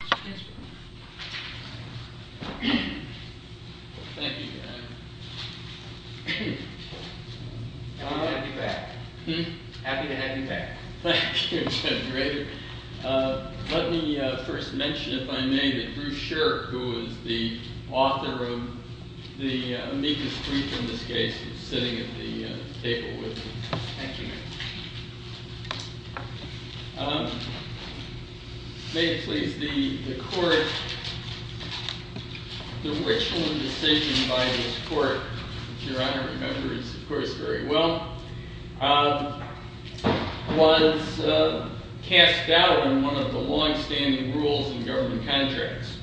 Thank you, Ted. Let me first mention, if I may, that Bruce Sherrick, who is the author of the amicus brief in this case, is sitting at the table with me. May it please the Court, the Richland decision by this Court, which Your Honor remembers, of course, very well, was cast doubt on one of the long-standing rules in government contracts,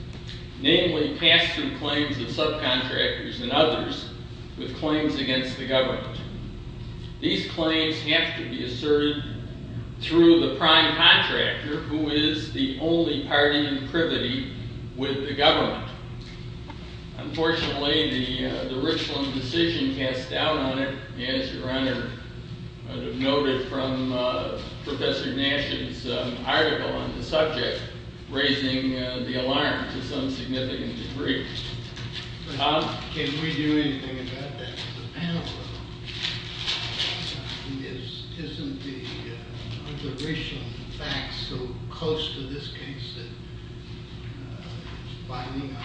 namely pass-through claims of subcontractors and others with claims against the government. These claims have to be asserted through the prime contractor, who is the only party in privity with the government. Unfortunately, the Richland decision cast doubt on it, as Your Honor noted from Professor Gnasham's article on the subject, raising the alarm to some significant degree. Can we do anything about that? Isn't the Richland facts so close to this case that it's biting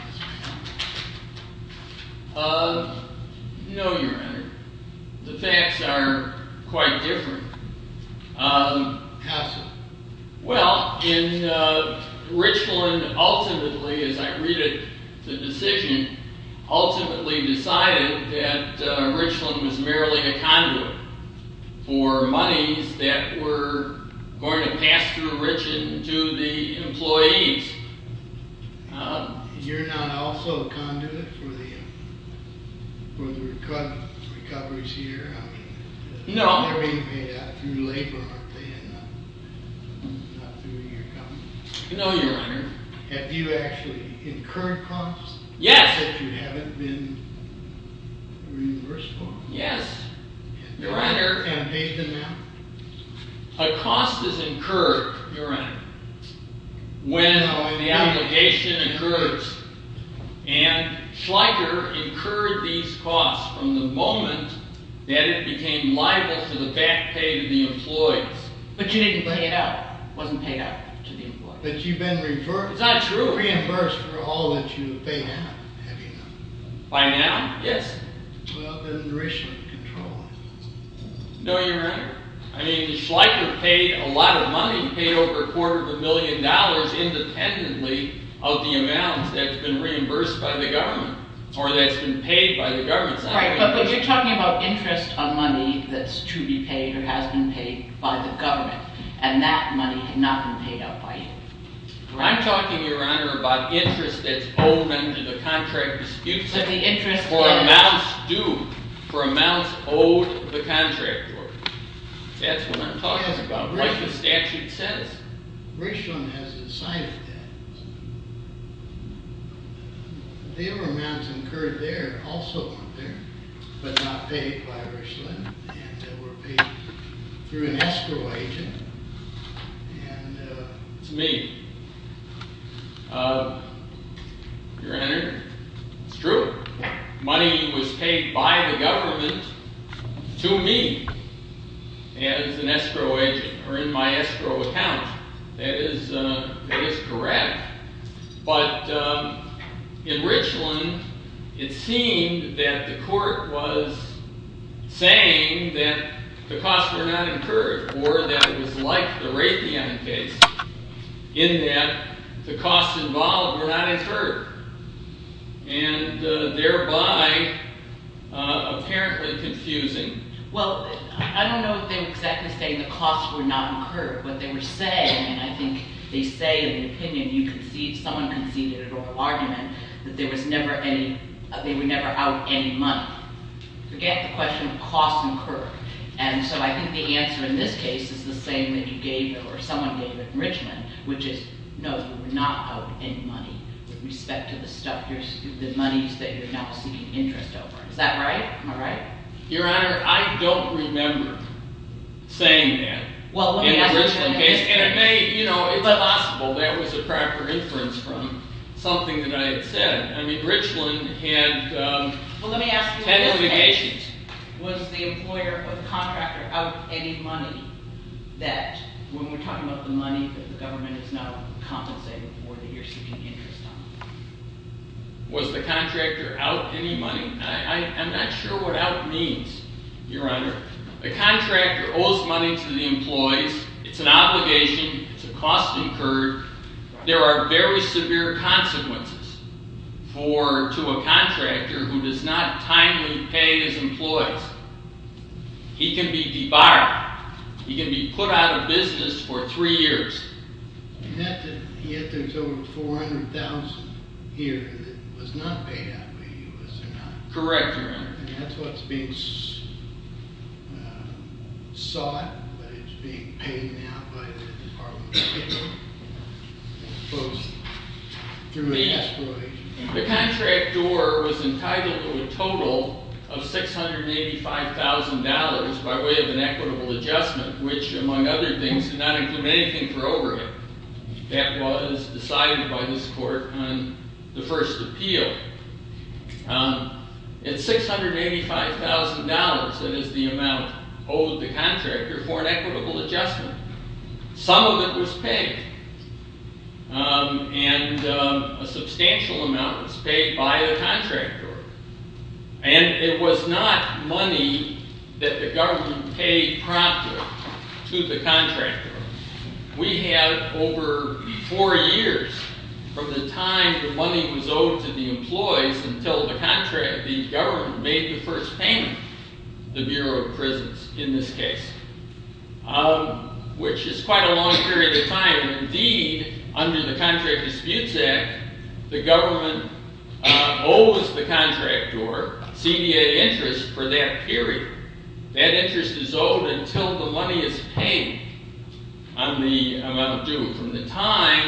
us? No, Your Honor. The facts are quite different. How so? Well, Richland ultimately, as I read the decision, ultimately decided that Richland was merely a conduit for monies that were going to pass through Richland to the employees. You're not also a conduit for the recoveries here? No. They're being paid out through labor, aren't they, and not through your company? No, Your Honor. Have you actually incurred costs that you haven't been reimbursable? Yes, Your Honor. Can I pay them now? A cost is incurred, Your Honor, when the obligation occurs, and Schleicher incurred these costs from the moment that it became liable for the back pay to the employees. But you didn't pay it out. It wasn't paid out to the employees. But you've been reimbursed for all that you've paid out, have you not? By now, yes. Well, then Richland controls it. No, Your Honor. I mean, Schleicher paid a lot of money. He paid over a quarter of a million dollars independently of the amount that's been reimbursed by the government, or that's been paid by the government. Right, but you're talking about interest on money that's to be paid or has been paid by the government, and that money had not been paid out by him. I'm talking, Your Honor, about interest that's owed under the contract dispute system for amounts due, for amounts owed the contractor. That's what I'm talking about, what the statute says. Richland has decided that. There were amounts incurred there also up there, but not paid by Richland, and they were paid through an escrow agent. It's me. Your Honor, it's true. Money was paid by the government to me as an escrow agent or in my escrow account. That is correct, but in Richland it seemed that the court was saying that the costs were not incurred or that it was like the Raytheon case in that the costs involved were not incurred, and thereby apparently confusing. Well, I don't know if they were exactly saying the costs were not incurred, but they were saying, and I think they say in the opinion you concede, someone conceded in oral argument, that they were never out any money. Forget the question of costs incurred, and so I think the answer in this case is the same that you gave or someone gave in Richland, which is no, you were not out any money with respect to the stuff, the monies that you're now seeking interest over. Is that right? Am I right? Your Honor, I don't remember saying that in the Richland case, and it may, you know, it's possible that was a proper inference from something that I had said. I mean, Richland had ten litigations. Well, let me ask you a question. Was the employer or the contractor out any money that, when we're talking about the money that the government is now compensating for that you're seeking interest on? Was the contractor out any money? I'm not sure what out means, Your Honor. The contractor owes money to the employees. It's an obligation. It's a cost incurred. There are very severe consequences for, to a contractor who does not timely pay his employees. He can be debarred. He can be put out of business for three years. He had to, he had to, in total, $400,000 here that was not paid out by the U.S. or not. Correct, Your Honor. And that's what's being sought, but it's being paid now by the Department of Labor. The contractor was entitled to a total of $685,000 by way of an equitable adjustment, which, among other things, did not include anything for overhead. That was decided by this court on the first appeal. It's $685,000 that is the amount owed the contractor for an equitable adjustment. Some of it was paid, and a substantial amount was paid by the contractor. And it was not money that the government paid promptly to the contractor. We have over four years from the time the money was owed to the employees until the contract, the government made the first payment, the Bureau of Prisons, in this case. Which is quite a long period of time. Indeed, under the Contract Disputes Act, the government owes the contractor CDA interest for that period. That interest is owed until the money is paid on the amount due.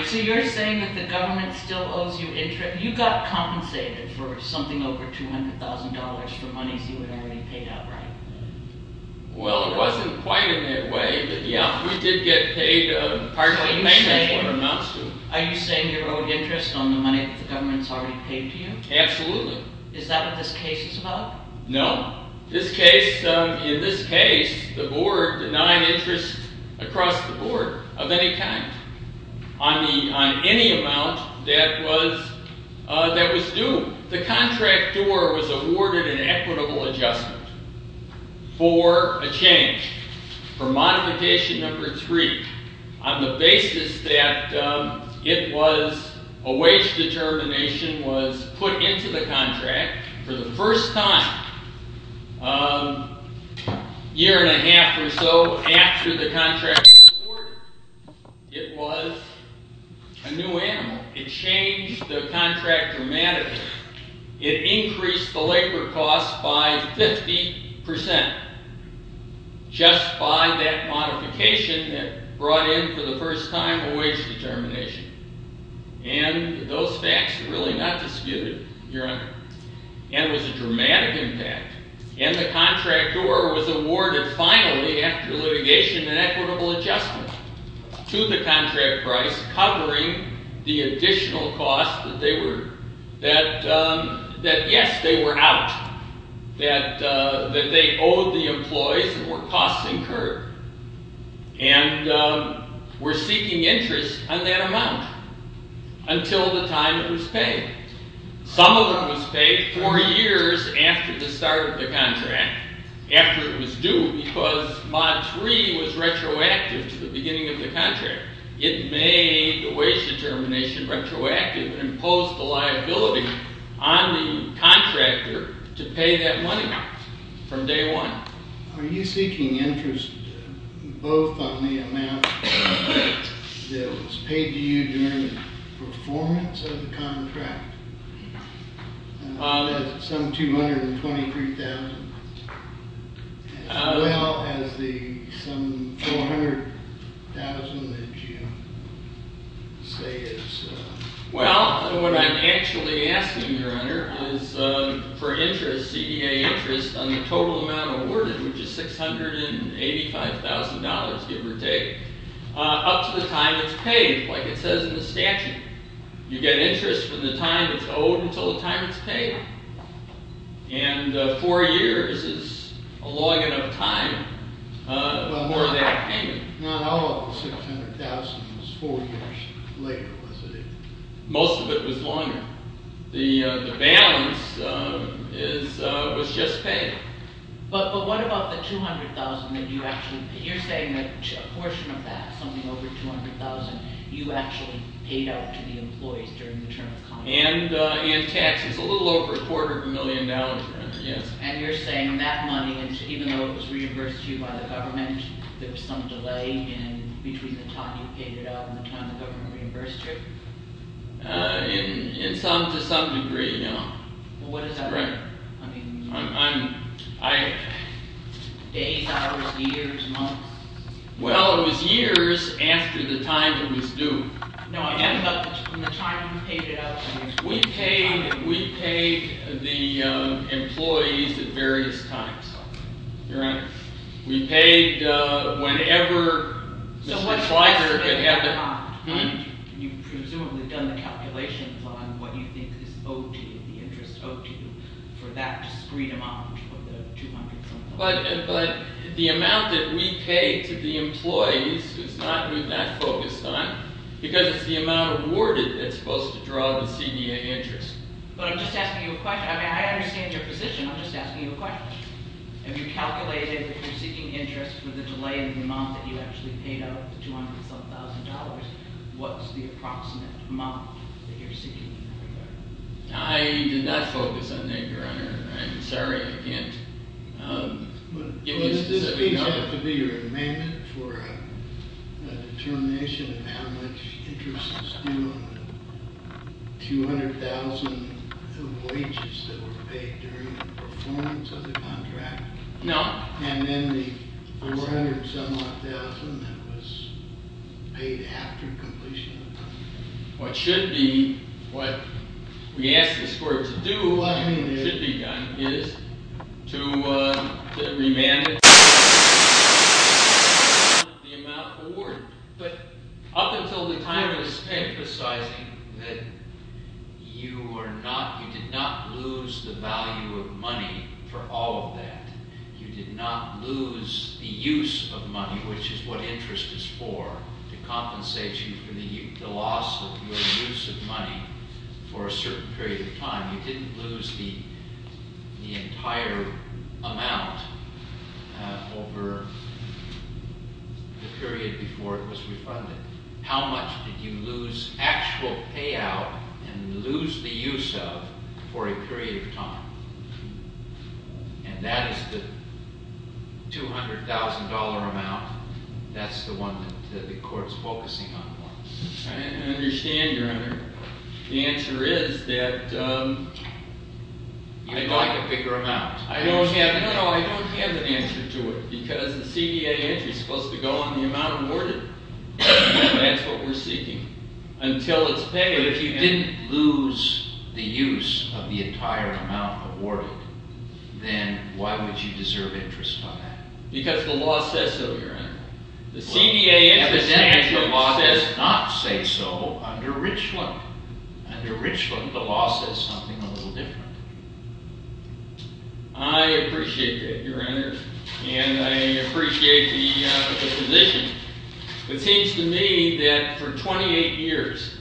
So you're saying that the government still owes you interest? You got compensated for something over $200,000 for monies you had already paid out, right? Well, it wasn't quite in that way. Yeah, we did get paid part of the payment for amounts due. Are you saying you're owed interest on the money that the government's already paid to you? Absolutely. Is that what this case is about? No. In this case, the board denied interest across the board of any kind on any amount that was due. The contractor was awarded an equitable adjustment for a change. For modification number three, on the basis that a wage determination was put into the contract for the first time a year and a half or so after the contract was awarded. It was a new animal. It changed the contract dramatically. It increased the labor costs by 50% just by that modification that brought in for the first time a wage determination. And those facts are really not disputed, Your Honor. And it was a dramatic impact. And the contractor was awarded finally after litigation an equitable adjustment to the contract price covering the additional costs that they were, that yes, they were out. That they owed the employees and were costs incurred. And were seeking interest on that amount until the time it was paid. Some of it was paid four years after the start of the contract, after it was due, because mod three was retroactive to the beginning of the contract. It made the wage determination retroactive and imposed the liability on the contractor to pay that money from day one. Are you seeking interest both on the amount that was paid to you during the performance of the contract, some $223,000, as well as the some $400,000 that you say is... Well, what I'm actually asking, Your Honor, is for interest, CEA interest on the total amount awarded, which is $685,000, give or take, up to the time it's paid, like it says in the statute. You get interest from the time it's owed until the time it's paid. And four years is a long enough time for that payment. Not all of the $600,000 was four years later, was it? Most of it was longer. The balance was just paid. But what about the $200,000 that you actually paid? You're saying that a portion of that, something over $200,000, you actually paid out to the employees during the term of contract. And taxes, a little over a quarter of a million dollars, Your Honor, yes. And you're saying that money, even though it was reimbursed to you by the government, there was some delay in between the time you paid it out and the time the government reimbursed you? In some, to some degree, no. What is that? Days, hours, years, months? Well, it was years after the time it was due. No, I'm talking about the time you paid it out. We paid the employees at various times, Your Honor. We paid whenever Mr. Fleischer could have the time. You've presumably done the calculations on what you think is OT, the interest OT for that discrete amount of the $200,000. But the amount that we paid to the employees is not what I focused on, because it's the amount awarded that's supposed to draw the CDA interest. But I'm just asking you a question. I mean, I understand your position. I'm just asking you a question. Have you calculated, if you're seeking interest for the delay in the amount that you actually paid out, the $200,000, what's the approximate amount that you're seeking in that regard? I did not focus on that, Your Honor. I'm sorry, I can't give you a specific number. Well, does this page have to be your amendment for a determination of how much interest is due on the $200,000 of wages that were paid during the performance of the contract? No. And then the $400,000 that was paid after completion of the contract? What should be, what we ask the court to do, should be done, is to remand the amount awarded. But up until the time I was emphasizing that you did not lose the value of money for all of that. You did not lose the use of money, which is what interest is for, to compensate you for the loss of your use of money for a certain period of time. You didn't lose the entire amount over the period before it was refunded. How much did you lose actual payout and lose the use of for a period of time? And that is the $200,000 amount. That's the one that the court's focusing on. I understand, Your Honor. The answer is that... You'd like a bigger amount. No, no, I don't have an answer to it, because the CDA entry is supposed to go on the amount awarded. That's what we're seeking. Until it's paid. But if you didn't lose the use of the entire amount awarded, then why would you deserve interest on that? Because the law says so, Your Honor. Well, evidently the law does not say so under Richland. Under Richland, the law says something a little different. I appreciate that, Your Honor, and I appreciate the position. It seems to me that for 28 years,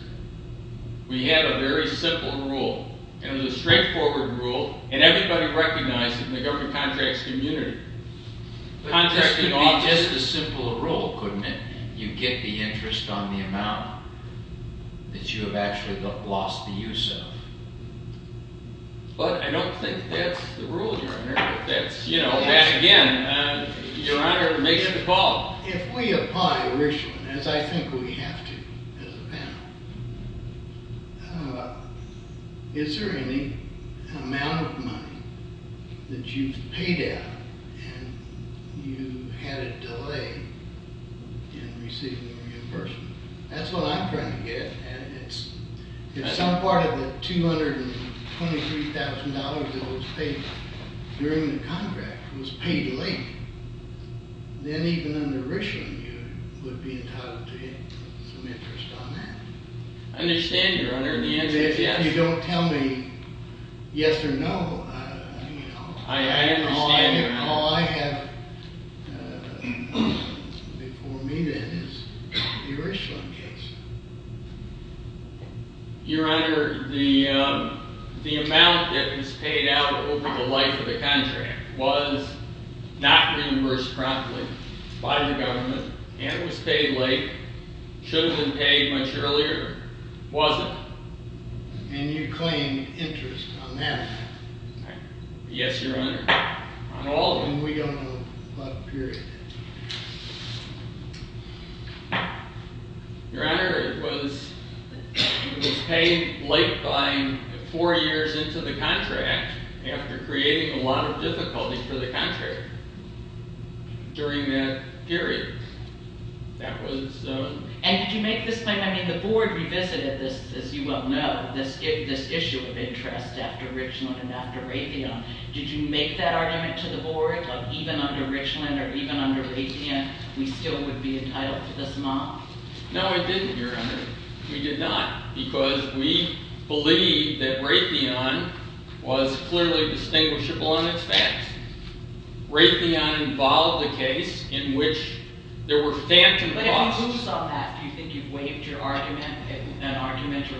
we had a very simple rule, and it was a straightforward rule, and everybody recognized it in the government contracts community. But this could be just as simple a rule, couldn't it? You get the interest on the amount that you have actually lost the use of. But I don't think that's the rule, Your Honor. Again, Your Honor, make the call. If we apply Richland, as I think we have to as a panel, is there any amount of money that you've paid out and you had a delay in receiving reimbursement? That's what I'm trying to get at. If some part of the $223,000 that was paid during the contract was paid late, then even under Richland, you would be entitled to get some interest on that. I understand, Your Honor, and the answer is yes. If you don't tell me yes or no, all I have before me then is the Richland case. Your Honor, the amount that was paid out over the life of the contract was not reimbursed promptly by the government and was paid late, should have been paid much earlier, wasn't. And you claim interest on that? Yes, Your Honor, on all of them. And we don't know what period. Your Honor, it was paid late by four years into the contract after creating a lot of difficulty for the contractor during that period. And did you make this claim? I mean, the Board revisited this, as you well know, this issue of interest after Richland and after Raytheon. Did you make that argument to the Board? Like, even under Richland or even under Raytheon, we still would be entitled to this amount? No, I didn't, Your Honor. We did not because we believe that Raytheon was clearly distinguishable on its facts. Raytheon involved a case in which there were phantom costs. But who saw that? Do you think you've waived your argument? An argument or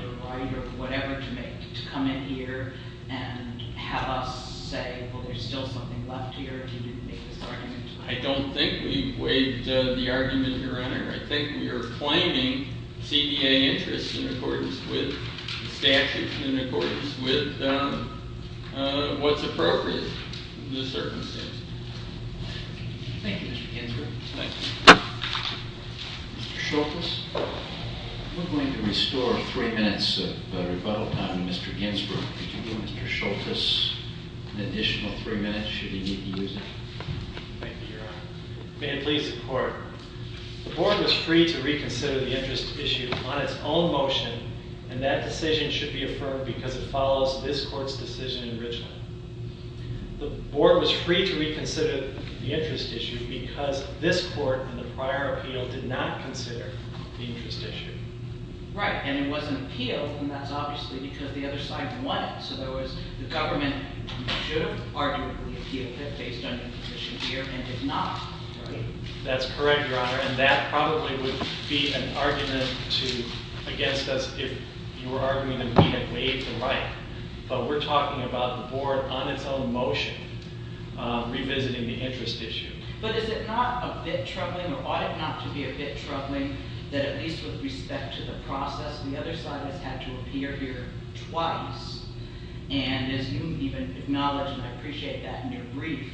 whatever to make to come in here and have us say, well, there's still something left here? Did you make this argument? I don't think we've waived the argument, Your Honor. I think we are claiming CBA interest in accordance with the statute, in accordance with what's appropriate in this circumstance. Thank you, Mr. Ginsburg. Thank you. Mr. Schultes, we're going to restore three minutes of rebuttal time to Mr. Ginsburg. Could you give Mr. Schultes an additional three minutes, should he need to use it? Thank you, Your Honor. May it please the Court. The Board was free to reconsider the interest issue on its own motion, and that decision should be affirmed because it follows this Court's decision in Richland. The Board was free to reconsider the interest issue because this Court, in the prior appeal, did not consider the interest issue. Right. And it wasn't appealed, and that's obviously because the other side won it. So there was the government should have arguably appealed it, based on the position here, and did not. Right? That's correct, Your Honor. And that probably would be an argument against us if you were arguing that we had waived the right. But we're talking about the Board, on its own motion, revisiting the interest issue. But is it not a bit troubling, or ought it not to be a bit troubling, that at least with respect to the process, the other side has had to appear here twice? And as you even acknowledged, and I appreciate that in your brief,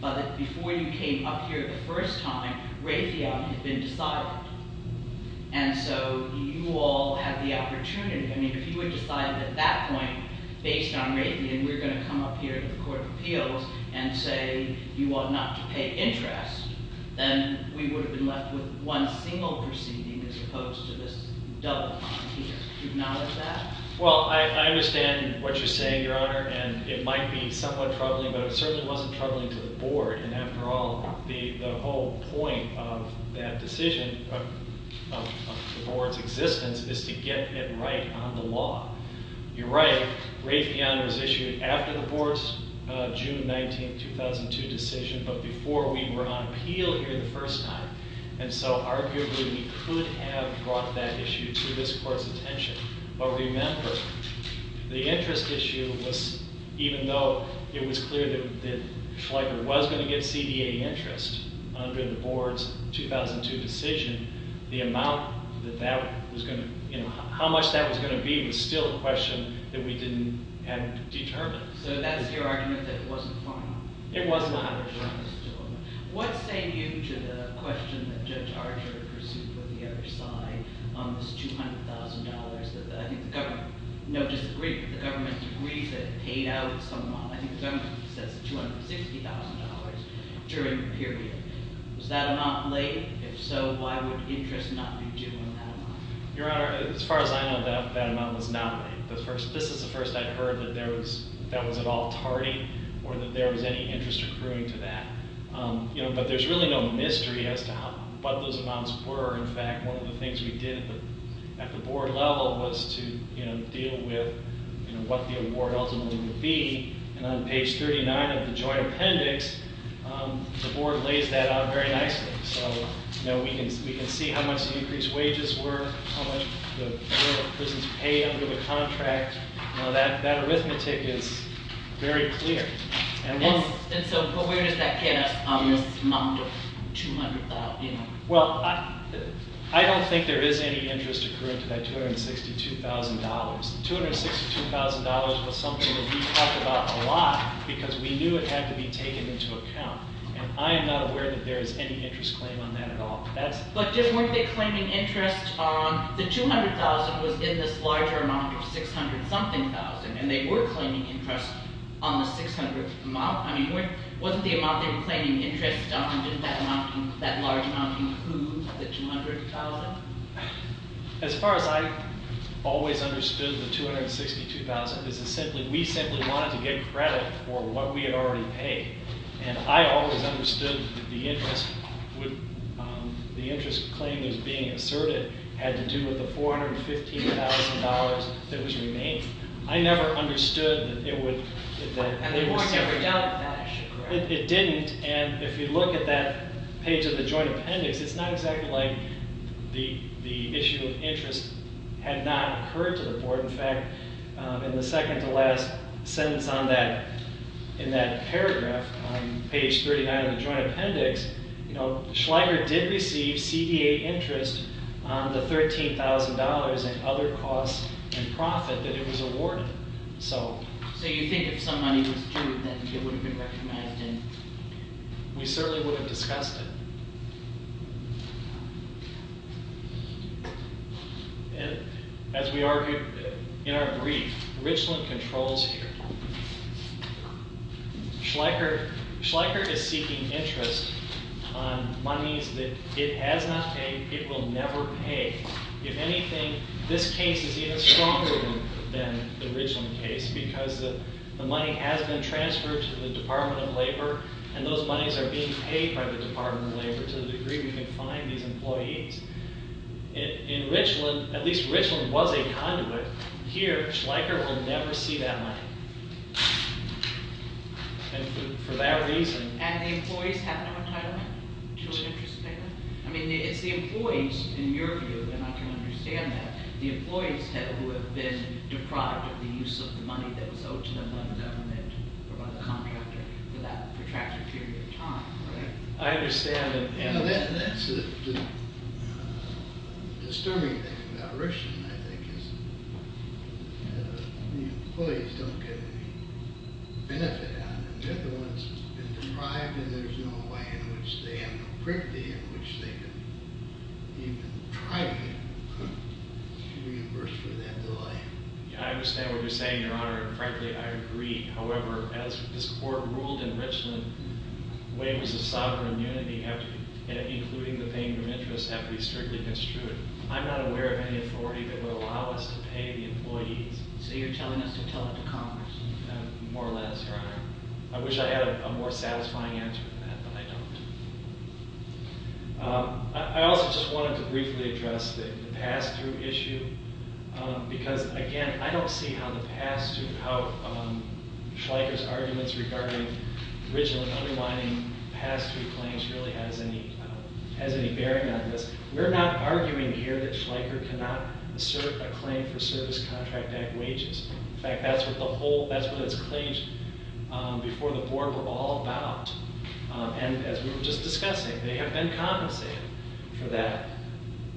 but before you came up here the first time, Raytheon had been decided. And so you all had the opportunity. I mean, if you had decided at that point, based on Raytheon, we're going to come up here to the Court of Appeals and say you want not to pay interest, then we would have been left with one single proceeding as opposed to this double fine here. Do you acknowledge that? Well, I understand what you're saying, Your Honor. And it might be somewhat troubling, but it certainly wasn't troubling to the Board. And after all, the whole point of that decision, of the Board's existence, is to get it right on the law. You're right. Raytheon was issued after the Board's June 19, 2002 decision, but before we were on appeal here the first time. And so arguably we could have brought that issue to this Court's attention. But remember, the interest issue was, even though it was clear that Schleicher was going to get CDA interest under the Board's 2002 decision, the amount that that was going to – how much that was going to be was still a question that we didn't have determined. So that's your argument that it wasn't final? It was final. What saved you to the question that Judge Archer pursued for the other side on this $200,000 that I think the government – no, just the government agrees that it paid out somewhat. I think the government says $260,000 during the period. Was that amount laid? If so, why would interest not be due on that amount? Your Honor, as far as I know, that amount was not laid. This is the first I heard that that was at all tardy or that there was any interest accruing to that. But there's really no mystery as to what those amounts were. In fact, one of the things we did at the Board level was to deal with what the award ultimately would be. And on page 39 of the joint appendix, the Board lays that out very nicely. So we can see how much the increased wages were, how much the prisons pay under the contract. That arithmetic is very clear. And so where does that get us on this amount of $200,000? Well, I don't think there is any interest accruing to that $262,000. $262,000 was something that we talked about a lot because we knew it had to be taken into account. And I am not aware that there is any interest claim on that at all. But just weren't they claiming interest on the $200,000 was in this larger amount of $600-something thousand, and they were claiming interest on the $600,000? I mean, wasn't the amount they were claiming interest on just that large amount included the $200,000? As far as I always understood the $262,000, we simply wanted to get credit for what we had already paid. And I always understood the interest claim that was being asserted had to do with the $415,000 that was remaining. I never understood that it would- And they weren't ever done with that issue, correct? It didn't. And if you look at that page of the joint appendix, it's not exactly like the issue of interest had not occurred to the board. In fact, in the second-to-last sentence in that paragraph, page 39 of the joint appendix, Schlager did receive CDA interest on the $13,000 in other costs and profit that it was awarded. So you think if some money was due, then it would have been recognized? We certainly would have discussed it. As we argued in our brief, Richland controls here. Schlager is seeking interest on monies that it has not paid, it will never pay. If anything, this case is even stronger than the Richland case because the money has been transferred to the Department of Labor, and those monies are being paid by the Department of Labor to the degree we can find these employees. In Richland, at least Richland was a conduit. Here, Schlager will never see that money. And for that reason- And the employees have no entitlement to an interest payment? I mean, it's the employees, in your view, and I can understand that, the employees who have been deprived of the use of the money that was owed to them by the government or by the contractor for that protracted period of time. I understand- That's the disturbing thing about Richland, I think, is the employees don't get any benefit out of it. They're the ones who've been deprived, and there's no way in which they have no privacy in which they can even try to get reimbursement for that delay. I understand what you're saying, Your Honor, and frankly, I agree. However, as this Court ruled in Richland, the way it was a sovereign unity, including the paying of interest, that would be strictly construed. I'm not aware of any authority that would allow us to pay the employees. So you're telling us to tell it to Congress? More or less, Your Honor. I wish I had a more satisfying answer for that, but I don't. I also just wanted to briefly address the pass-through issue, because, again, I don't see how Schleicher's arguments regarding Richland underlining pass-through claims really has any bearing on this. We're not arguing here that Schleicher cannot assert a claim for service contract-backed wages. In fact, that's what the whole—that's what its claims before the Board were all about. And as we were just discussing, they have been compensated for that.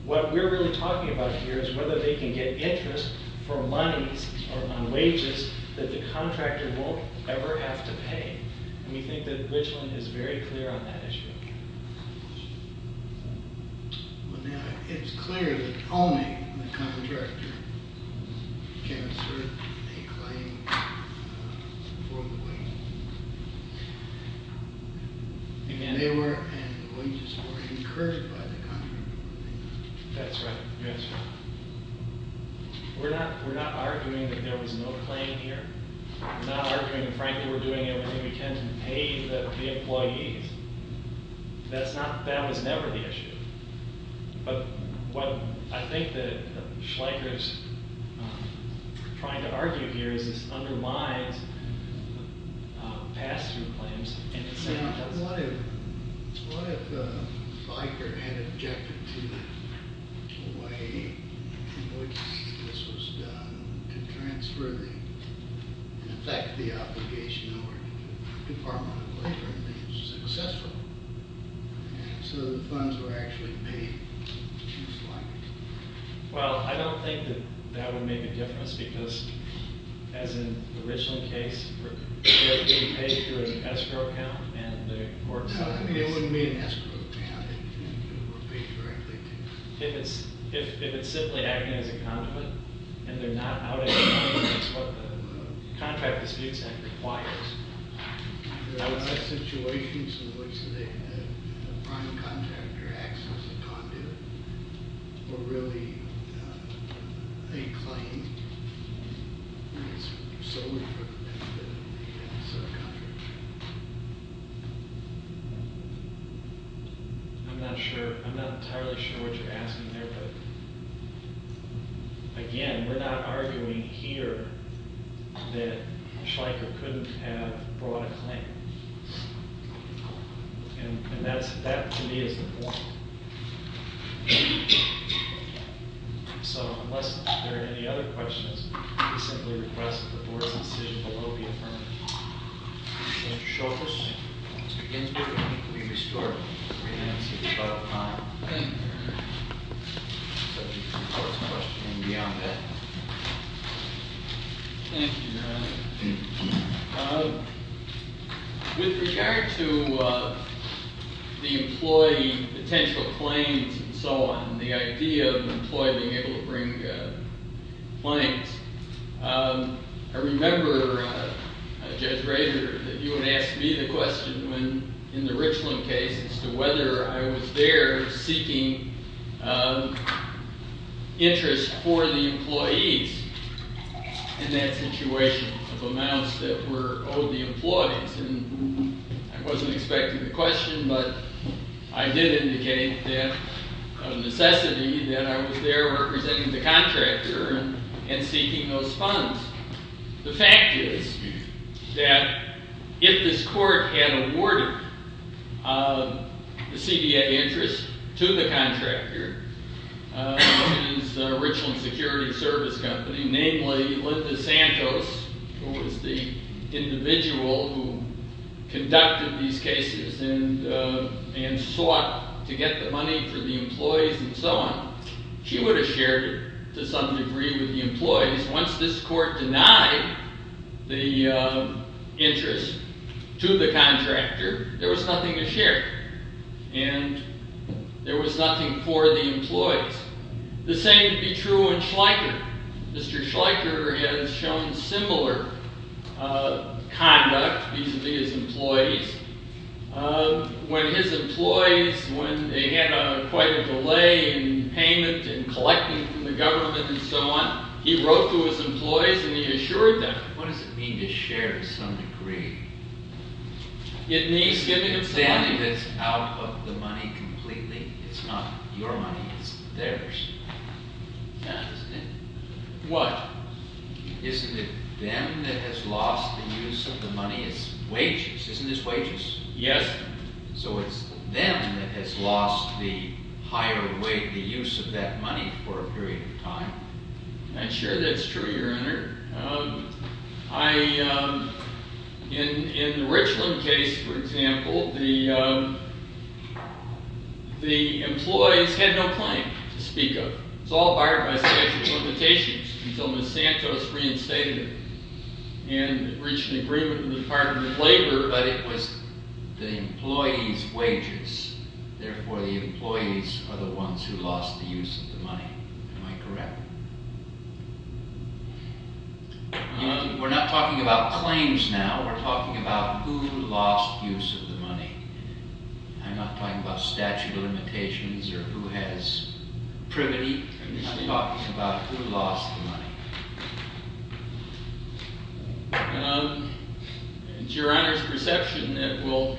What we're really talking about here is whether they can get interest for monies on wages that the contractor won't ever have to pay. And we think that Richland is very clear on that issue. Well, now, it's clear that only the contractor can assert a claim for wages. And they were—and the wages were incurred by the contractor. That's right. That's right. We're not arguing that there was no claim here. We're not arguing that, frankly, we're doing everything we can to pay the employees. That's not—that was never the issue. But what I think that Schleicher's trying to argue here is this undermines pass-through claims. Now, what if—what if Schleicher had objected to the way in which this was done to transfer the—in effect, the obligation over to the Department of Labor and be successful? So the funds were actually paid to Schleicher. Well, I don't think that that would make a difference because, as in the Richland case, they're being paid through an escrow account, and the court— No, it wouldn't be an escrow account. It would be directly to— If it's simply acting as a conduit, and they're not out of it, that's what the Contract Disputes Act requires. There are a lot of situations in which the prime contractor acts as a conduit or really a claim, and it's solely for the benefit of the prime contractor. I'm not sure—I'm not entirely sure what you're asking there, but, again, we're not arguing here that Schleicher couldn't have brought a claim. And that to me is the point. So, unless there are any other questions, we simply request that the Board's decision be loaded for Mr. Schultz. Mr. Ginsburg, you need to be restored in three minutes. It's about time. Thank you, Your Honor. So, if you have some questions beyond that. Thank you, Your Honor. With regard to the employee potential claims and so on, the idea of an employee being able to bring claims, I remember, Judge Rader, that you had asked me the question in the Richland case as to whether I was there seeking interest for the employees in that situation of amounts that were owed the employees. And I wasn't expecting the question, but I did indicate that of necessity that I was there representing the contractor and seeking those funds. The fact is that if this Court had awarded the CDA interest to the contractor, Richland Security Service Company, namely Linda Santos, who was the individual who conducted these cases and sought to get the money for the employees and so on, she would have shared it to some degree with the employees. Once this Court denied the interest to the contractor, there was nothing to share. And there was nothing for the employees. The same would be true in Schleicher. Mr. Schleicher has shown similar conduct vis-à-vis his employees. When his employees, when they had quite a delay in payment and collecting from the government and so on, he wrote to his employees and he assured them. What does it mean to share to some degree? It means giving it to somebody. It's out of the money completely. It's not your money, it's theirs. What? Isn't it them that has lost the use of the money as wages? Isn't this wages? Yes. So it's them that has lost the higher weight, the use of that money for a period of time. I'm sure that's true, Your Honor. In the Richland case, for example, the employees had no claim to speak of. It was all barred by statute of limitations until Ms. Santos reinstated it and reached an agreement with the Department of Labor, but it was the employees' wages. Therefore, the employees are the ones who lost the use of the money. Am I correct? We're not talking about claims now. We're talking about who lost use of the money. I'm not talking about statute of limitations or who has privity. I'm talking about who lost the money. It's Your Honor's perception that we'll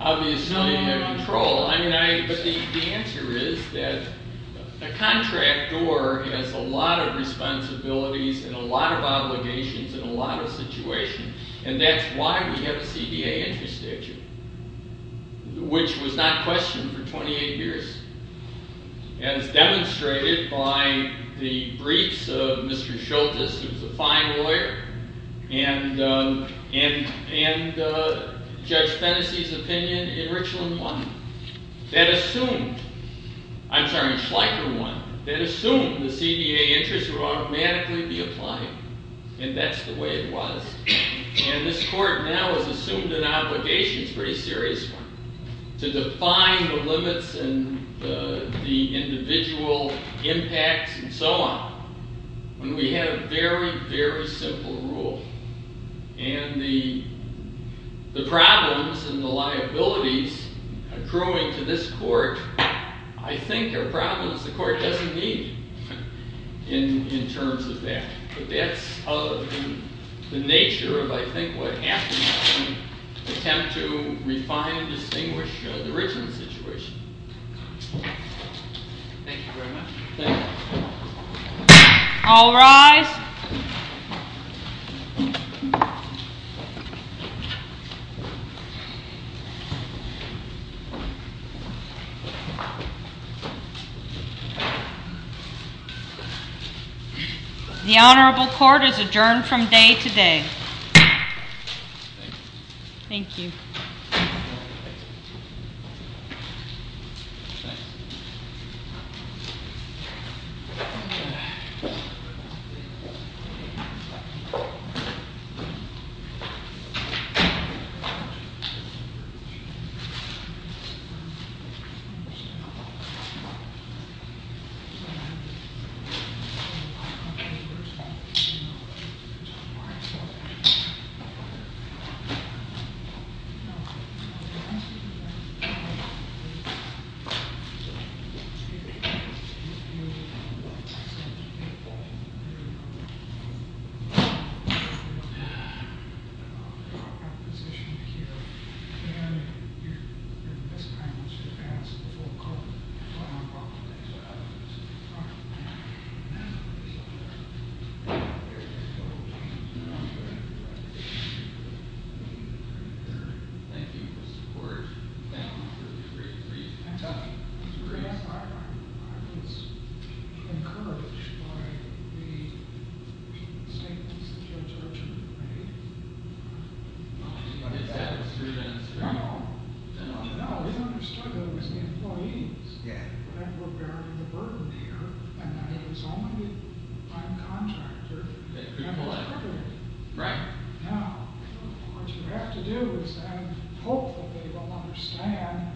obviously have control. But the answer is that a contractor has a lot of responsibilities and a lot of obligations in a lot of situations, and that's why we have a CDA interest statute, which was not questioned for 28 years. And it's demonstrated by the briefs of Mr. Schultes, who's a fine lawyer, and Judge Fennessy's opinion in Richland 1 that assumed... I'm sorry, in Schleicher 1, that assumed the CDA interest would automatically be applied, and that's the way it was. And this court now has assumed an obligation, it's a pretty serious one, to define the limits and the individual impacts and so on when we have a very, very simple rule. And the problems and the liabilities accruing to this court I think are problems. The court doesn't need it in terms of that. But that's the nature of, I think, what happens when we attempt to refine and distinguish the Richland situation. Thank you very much. All rise. The Honorable Court is adjourned from day to day. Thank you. Thank you. Thank you. Thank you for the support. Thank you for the briefs. I was encouraged by the statements of Judge Urchin, right? Did you get that? No, we understood that it was the employees that were bearing the burden here, and that it was only the prime contractor that was triggering it. Right. Now, what you have to do is, and hopefully we'll understand,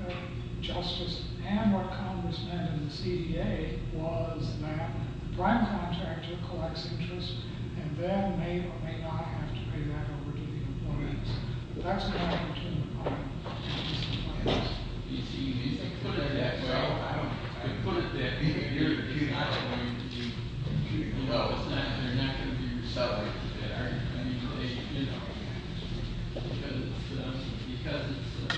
that justice and what Congress meant in the CDA was that the prime contractor collects interest and then may or may not have to pay that over to the employees. That's what I'm talking about. You see, you need to put it that way. You put it that way, and you're not going to be, you know, it's not, you're not going to be reciting that argument. I mean, they, you know, because it's, because it's...